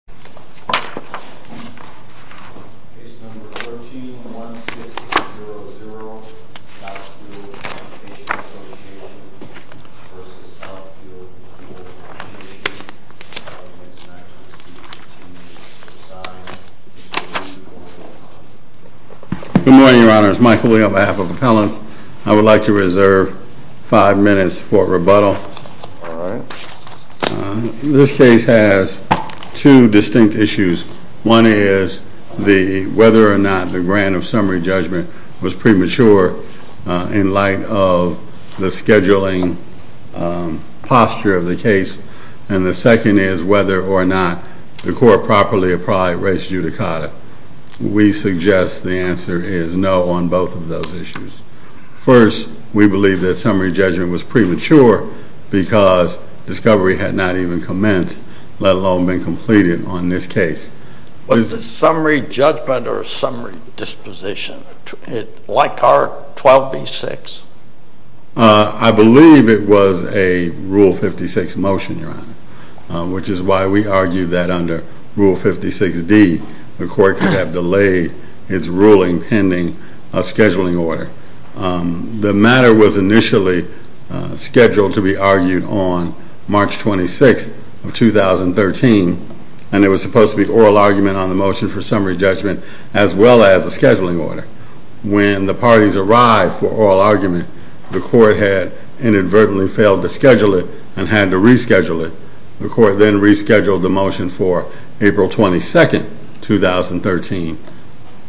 Education, and applicants have received a signed form of the application. Good morning, your honors. Michael Lee on behalf of Appellants. I would like to reserve five minutes for rebuttal. This case has two distinct issues. One is whether or not the grant of summary judgment was premature in light of the scheduling posture of the case. And the second is whether or not the court properly applied race judicata. We suggest the answer is no on both of those issues. First, we believe that summary judgment was premature because discovery had not even commenced, let alone been completed on this case. Was it summary judgment or summary disposition? Like our 12B-6? I believe it was a Rule 56 motion, which is why we argue that under Rule 56-D the court could have delayed its ruling pending a scheduling order. The matter was initially scheduled to be argued on March 26th of 2013 and it was supposed to be an oral argument on the motion for summary judgment as well as a scheduling order. When the parties arrived for oral argument, the court had inadvertently failed to schedule it and had to reschedule it. The court then rescheduled the motion for April 22nd, 2013.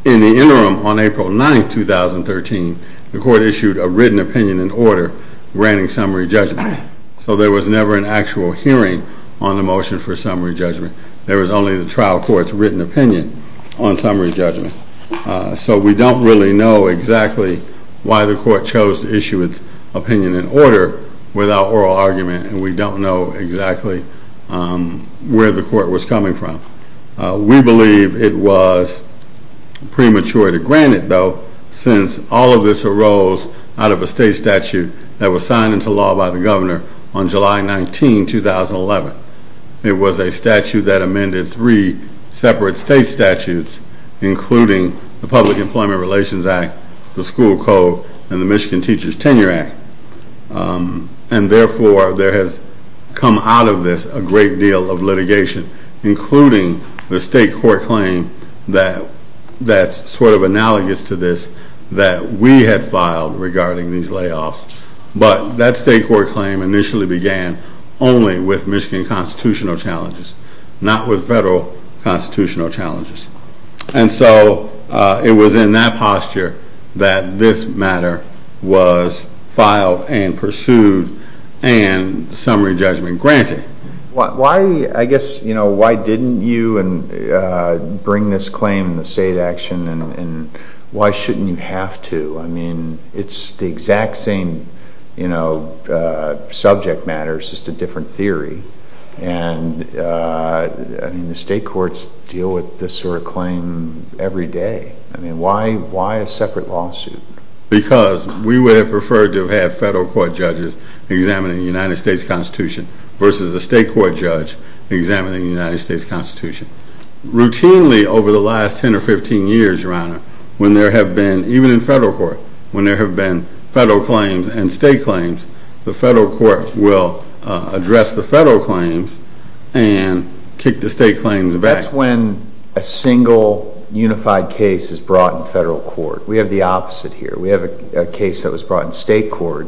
In the interim, on April 9th, 2013, the court issued a written opinion and order granting summary judgment. So there was never an actual hearing on the motion for summary judgment. There was only the trial court's written opinion on summary judgment. So we don't really know exactly why the court chose to issue its opinion and order without oral argument and we don't know exactly where the court was coming from. We believe it was premature to grant it, though, since all of this arose out of a state statute that was signed into law by the governor on July 19, 2011. It was a statute that amended three separate state statutes, including the Public Employment Relations Act, the School Code, and the Michigan Teachers Tenure Act. And therefore, there has come out of this a great deal of litigation, including the state court claim that's sort of analogous to this that we had filed regarding these layoffs. But that state court claim initially began only with Michigan constitutional challenges, not with federal constitutional challenges. And so, it was in that posture that this matter was filed and pursued and summary judgment granted. Why, I guess, you know, why didn't you and bring this claim in the state action and why shouldn't you have to? I mean, it's the exact same, you know, subject matters, just a different theory. And I mean, the state courts deal with this sort of claim every day. I mean, why a separate lawsuit? Because we would have preferred to have had federal court judges examining the United States Constitution versus a state court judge examining the United States Constitution. Routinely over the last 10 or 15 years, Your Honor, when there have been, even in federal court, when there have been federal claims and state claims, the federal court will address the federal claims and kick the state claims back. That's when a single unified case is brought in federal court. We have the opposite here. We have a case that was brought in state court.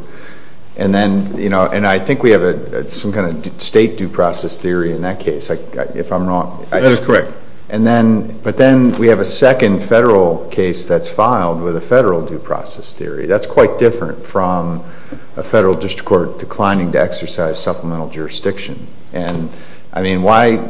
And then, you know, and I think we have some kind of state due process theory in that case, if I'm wrong. That is correct. And then, but then we have a second federal case that's filed with a federal due process theory. That's quite different from a federal district court declining to exercise supplemental jurisdiction. And I mean, why,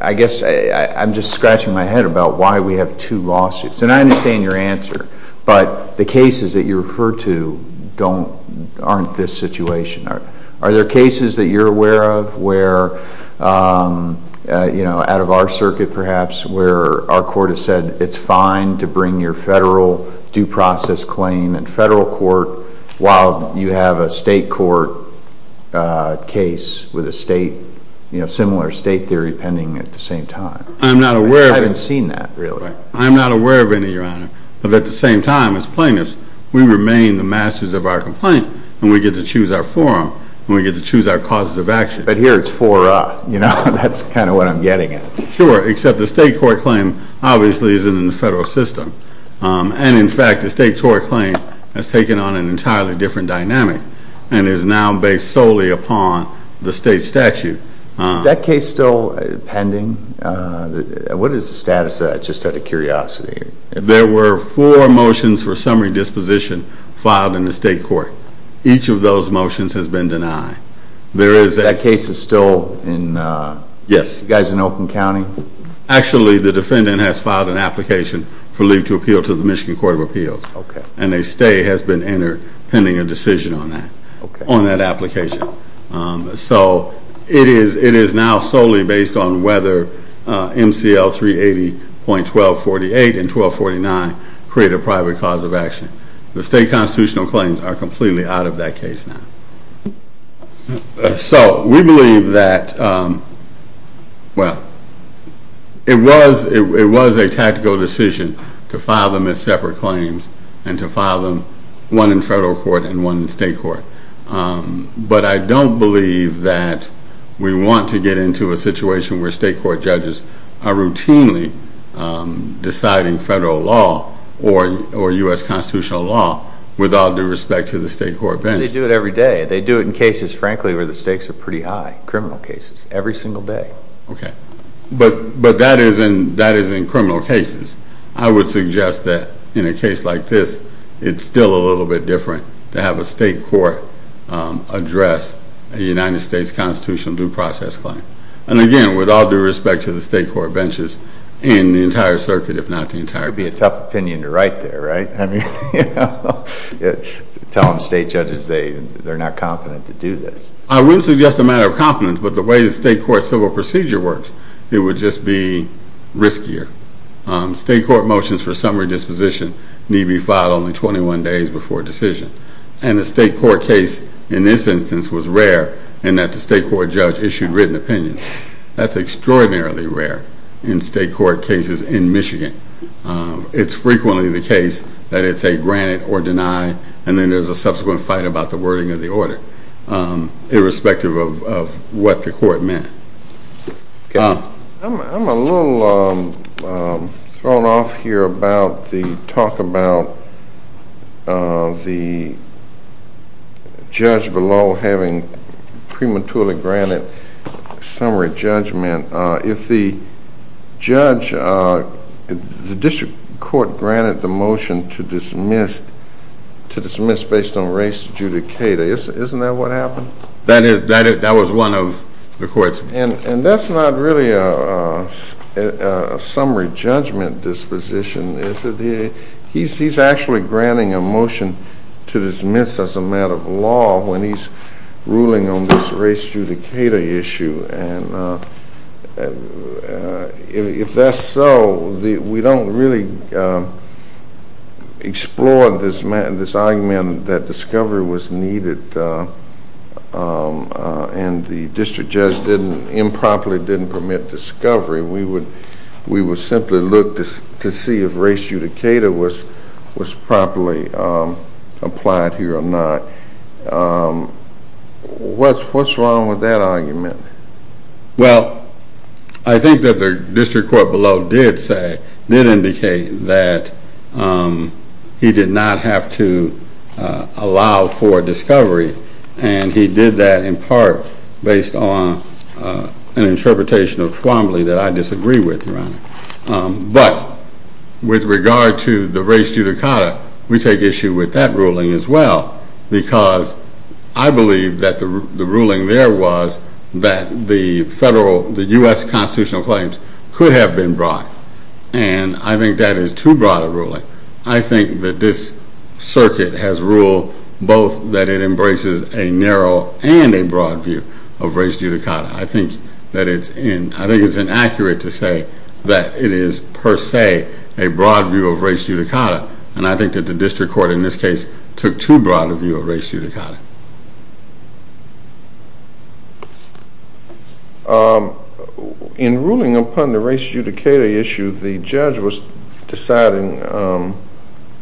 I guess I'm just scratching my head about why we have two lawsuits. And I understand your answer, but the cases that you referred to don't, aren't this situation. Are there cases that you're aware of, where, you know, out of our circuit perhaps, where our court has said it's fine to bring your federal due process claim in federal court, while you have a state court case with a state, you know, similar state theory pending at the same time. I'm not aware. I haven't seen that really. I'm not aware of any, your honor. But at the same time as plaintiffs, we remain the masters of our complaint and we get to choose our forum and we get to choose our causes of action. But here it's for, you know, that's kind of what I'm getting at. Sure. Except the state court claim obviously isn't in the federal system. And in fact, the state court claim has taken on an entirely different dynamic and is now based solely upon the state statute. Is that case still pending? What is the status of that, just out of curiosity? There were four motions for summary disposition filed in the state court. Each of those motions has been denied. There is a- That case is still in- Yes. You guys in Oakland County? Actually, the defendant has filed an application for leave to appeal to the Michigan Court of Appeals. Okay. And a stay has been entered pending a decision on that, on that application. So it is now solely based on whether MCL 380.1248 and 1249 create a private cause of action. The state constitutional claims are completely out of that case now. So we believe that, well, it was a tactical decision to file them as separate claims and to file them, one in federal court and one in state court. But I don't believe that we want to get into a situation where state court judges are routinely deciding federal law or U.S. constitutional law with all due respect to the state court bench. They do it every day. They do it in cases, frankly, where the stakes are pretty high, criminal cases, every single day. Okay. But that is in criminal cases. I would suggest that in a case like this, it's still a little bit different to have a state court address a United States constitutional due process claim. And again, with all due respect to the state court benches and the entire circuit, if not the entire court. It'd be a tough opinion to write there, right? I mean, you know. Telling the state judges they're not confident to do this. I wouldn't suggest a matter of confidence, but the way the state court civil procedure works, it would just be riskier. State court motions for summary disposition need be filed only 21 days before decision. And the state court case in this instance was rare in that the state court judge issued written opinion. That's extraordinarily rare in state court cases in Michigan. It's frequently the case that it's a granted or denied, and then there's a subsequent fight about the wording of the order, irrespective of what the court meant. I'm a little thrown off here about the talk about the judge below having prematurely granted summary judgment. If the judge, the district court granted the motion to dismiss based on race judicata, isn't that what happened? That is. That was one of the courts. And that's not really a summary judgment disposition. He's actually granting a motion to dismiss as a matter of law when he's ruling on this race judicata issue. And if that's so, we don't really explore this argument that discovery was needed and the district judge improperly didn't permit discovery. We would simply look to see if race judicata was properly applied here or not. What's wrong with that argument? Well, I think that the district court below did say, did indicate that he did not have to allow for discovery. And he did that in part based on an interpretation of Twombly that I disagree with, Your Honor. But with regard to the race judicata, we take issue with that ruling as well, because I believe that the ruling there was that the federal, the U.S. constitutional claims could have been brought. And I think that is too broad a ruling. I think that this circuit has ruled both that it embraces a narrow and a broad view of race judicata. I think that it's inaccurate to say that it is per se a broad view of race judicata. And I think that the district court in this case took too broad a view of race judicata. In ruling upon the race judicata issue, the judge was deciding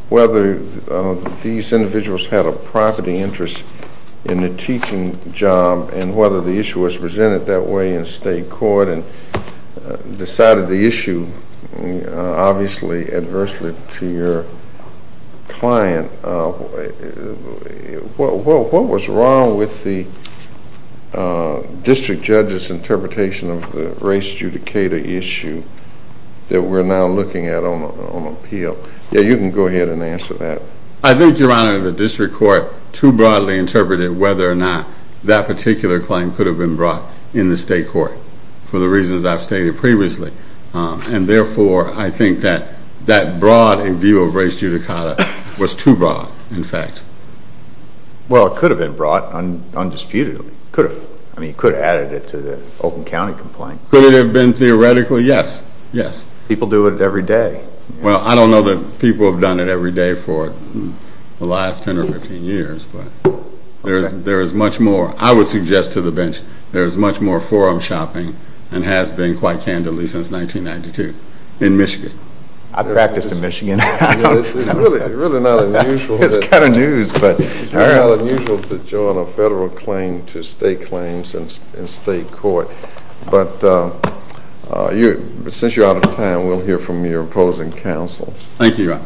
whether these individuals had a property interest in the teaching job and whether the issue was presented that way in state court and decided the issue obviously adversely to your client. What was wrong with the district judge's interpretation of the race judicata issue that we're now looking at on appeal? Yeah, you can go ahead and answer that. I think, Your Honor, the district court too broadly interpreted whether or not that particular claim could have been brought in the state court for the reasons I've stated previously. And therefore, I think that that broad view of race judicata was too broad, in fact. Well, it could have been brought undisputedly. Could have, I mean, it could have added it to the Oakland County complaint. Could it have been theoretically? Yes, yes. People do it every day. Well, I don't know that people have done it every day for the last 10 or 15 years, but there is much more. I would suggest to the bench, there is much more forum shopping and has been quite candidly since 1992 in Michigan. I've practiced in Michigan. It's really not unusual to join a federal claim to state claims in state court. But since you're out of time, we'll hear from your opposing counsel. Thank you, Your Honor.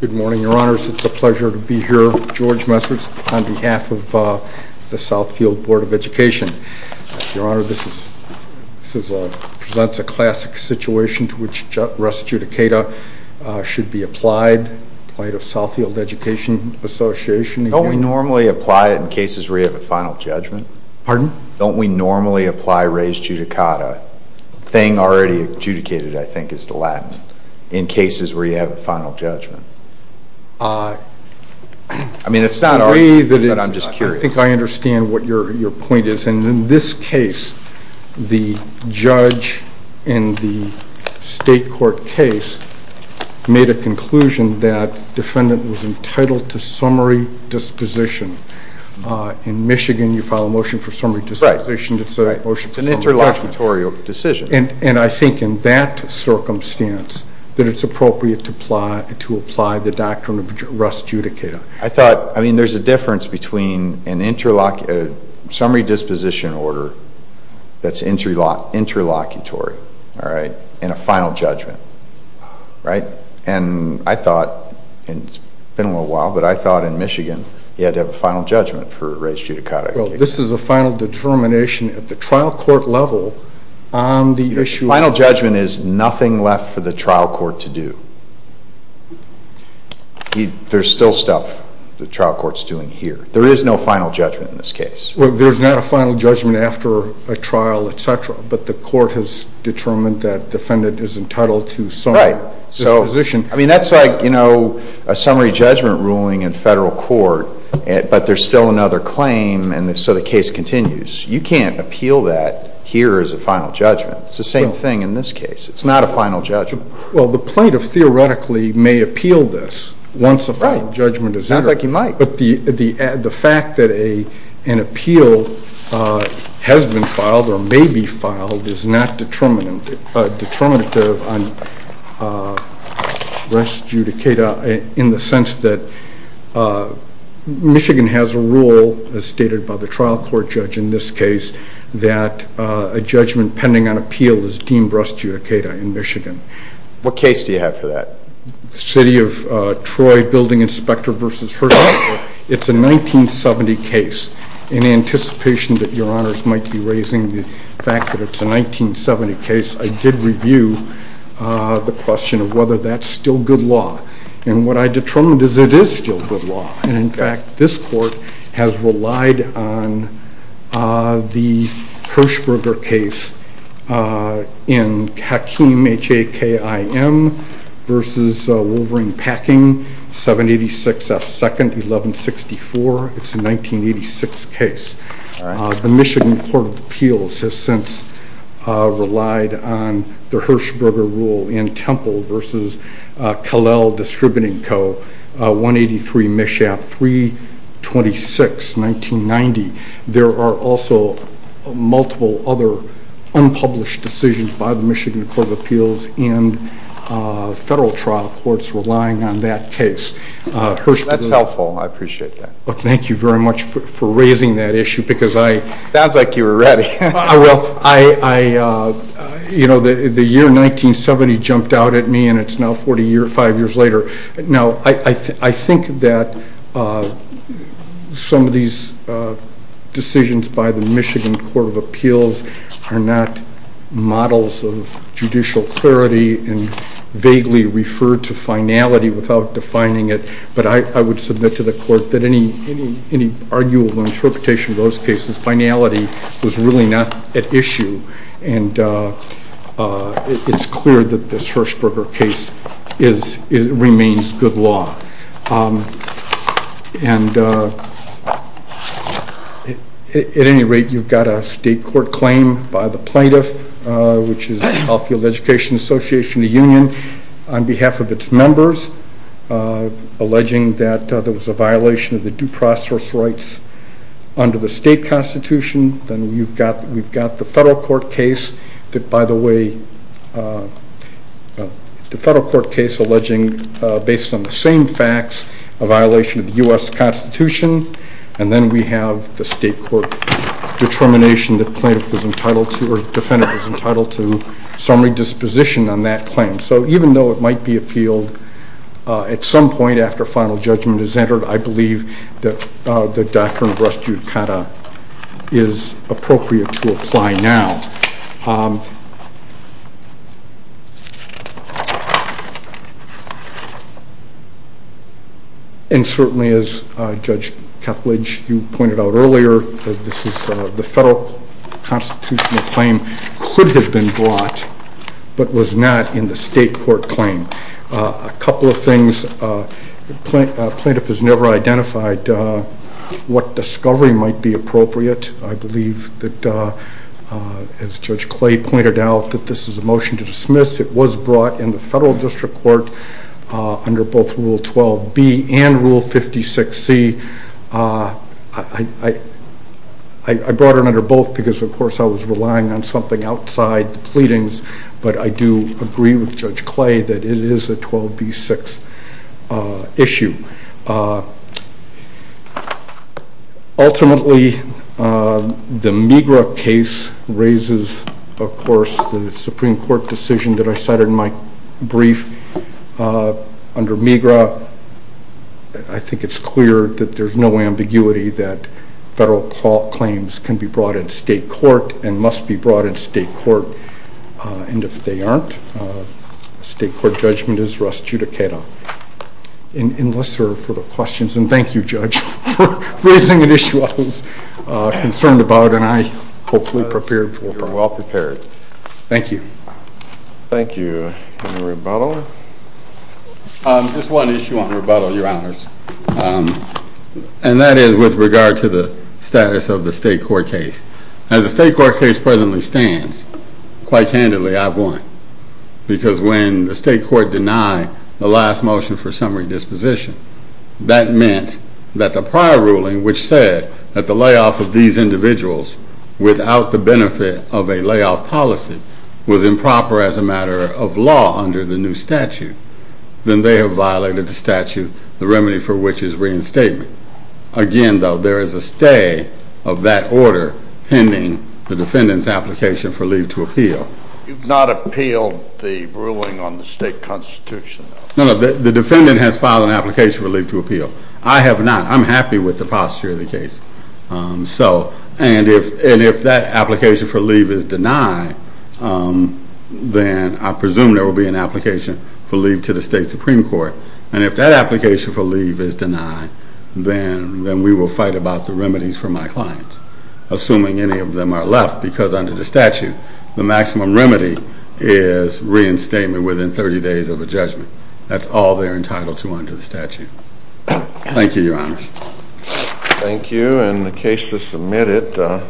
Good morning, Your Honors. It's a pleasure to be here. George Messers on behalf of the Southfield Board of Education. Your Honor, this presents a classic situation to which race judicata should be applied, applied of Southfield Education Association. Don't we normally apply it in cases where you have a final judgment? Pardon? Don't we normally apply race judicata, thing already adjudicated, I think, is the Latin, in cases where you have a final judgment? I mean, it's not our, but I'm just curious. I think I understand what your point is. And in this case, the judge in the state court case made a conclusion that defendant was entitled to summary disposition. In Michigan, you file a motion for summary disposition. It's a motion for summary disposition. It's an interlocutorial decision. And I think in that circumstance, that it's appropriate to apply the doctrine of race judicata. I thought, I mean, there's a difference between a summary disposition order that's interlocutory, all right, and a final judgment, right? And I thought, and it's been a little while, but I thought in Michigan, you had to have a final judgment for race judicata. Well, this is a final determination at the trial court level on the issue. Final judgment is nothing left for the trial court to do. There's still stuff the trial court's doing here. There is no final judgment in this case. Well, there's not a final judgment after a trial, et cetera, but the court has determined that defendant is entitled to summary disposition. I mean, that's like, you know, a summary judgment ruling in federal court, but there's still another claim. And so the case continues. You can't appeal that here as a final judgment. It's the same thing in this case. It's not a final judgment. Well, the plaintiff theoretically may appeal this once a final judgment is entered, but the fact that an appeal has been filed or may be filed is not determinative on breast judicata in the sense that Michigan has a rule as stated by the trial court judge in this case, that a judgment pending on appeal is deemed breast judicata in Michigan. What case do you have for that? City of Troy Building Inspector versus Hershberger. It's a 1970 case. In anticipation that your honors might be raising the fact that it's a 1970 case, I did review the question of whether that's still good law. And what I determined is it is still good law. And in fact, this court has relied on the Hershberger case in Hakeem, H-A-K-I-M versus Wolverine Packing, 786F2nd, 1164. It's a 1986 case. The Michigan Court of Appeals has since relied on the Hershberger rule in Temple versus Kalel Distributing Co., 183 Mishap, 326, 1990. There are also multiple other unpublished decisions by the Michigan Court of Appeals and federal trial courts relying on that case. Hershberger. That's helpful, I appreciate that. Well, thank you very much for raising that issue because I- Sounds like you were ready. I will. The year 1970 jumped out at me and it's now 40 years, five years later. Now, I think that some of these decisions by the Michigan Court of Appeals are not models of judicial clarity and vaguely referred to finality without defining it. But I would submit to the court that any arguable interpretation of those cases, finality was really not at issue. And it's clear that this Hershberger case remains good law. And at any rate, you've got a state court claim by the plaintiff, which is Health, Field, Education Association of the Union on behalf of its members, alleging that there was a violation of the due process rights under the state constitution. Then you've got, we've got the federal court case that by the way, the federal court case alleging based on the same facts, a violation of the U.S. constitution. And then we have the state court determination that plaintiff was entitled to, or defendant was entitled to summary disposition on that claim. So even though it might be appealed at some point after final judgment is entered, I believe that the doctrine of res judicata is appropriate to apply now. And certainly as Judge Kethledge, you pointed out earlier, this is the federal constitutional claim could have been brought, but was not in the state court claim. A couple of things, plaintiff has never identified what discovery might be appropriate. I believe that as Judge Clay pointed out that this is a motion to dismiss. It was brought in the federal district court under both rule 12B and rule 56C. I brought it under both because of course, I was relying on something outside the pleadings, but I do agree with Judge Clay that it is a 12B6 issue. Ultimately, the MiGRA case raises, of course, the Supreme court decision that I cited in my brief under MiGRA, I think it's clear that there's no ambiguity that federal claims can be brought in state court and must be brought in state court. And if they aren't, state court judgment is res judicata. And let's serve for the questions. And thank you, Judge, for raising an issue I was concerned about and I hopefully prepared for. Well prepared. Thank you. Thank you. Any rebuttal? Just one issue on rebuttal, your honors. And that is with regard to the status of the state court case. As the state court case presently stands, quite candidly, I've won. Because when the state court denied the last motion for summary disposition, that meant that the prior ruling, which said that the layoff of these individuals without the benefit of a layoff policy was improper as a matter of law under the new statute, then they have violated the statute, the remedy for which is reinstatement. Again, though, there is a stay of that order pending the defendant's application for leave to appeal. You've not appealed the ruling on the state constitution. No, no, the defendant has filed an application for leave to appeal. I have not. I'm happy with the posture of the case. So, and if that application for leave is denied, then I presume there will be an application for leave to the state supreme court. And if that application for leave is denied, then we will fight about the remedies for my clients. Assuming any of them are left, because under the statute, the maximum remedy is reinstatement within 30 days of a judgment. That's all they're entitled to under the statute. Thank you, your honors. Thank you. And the case is submitted.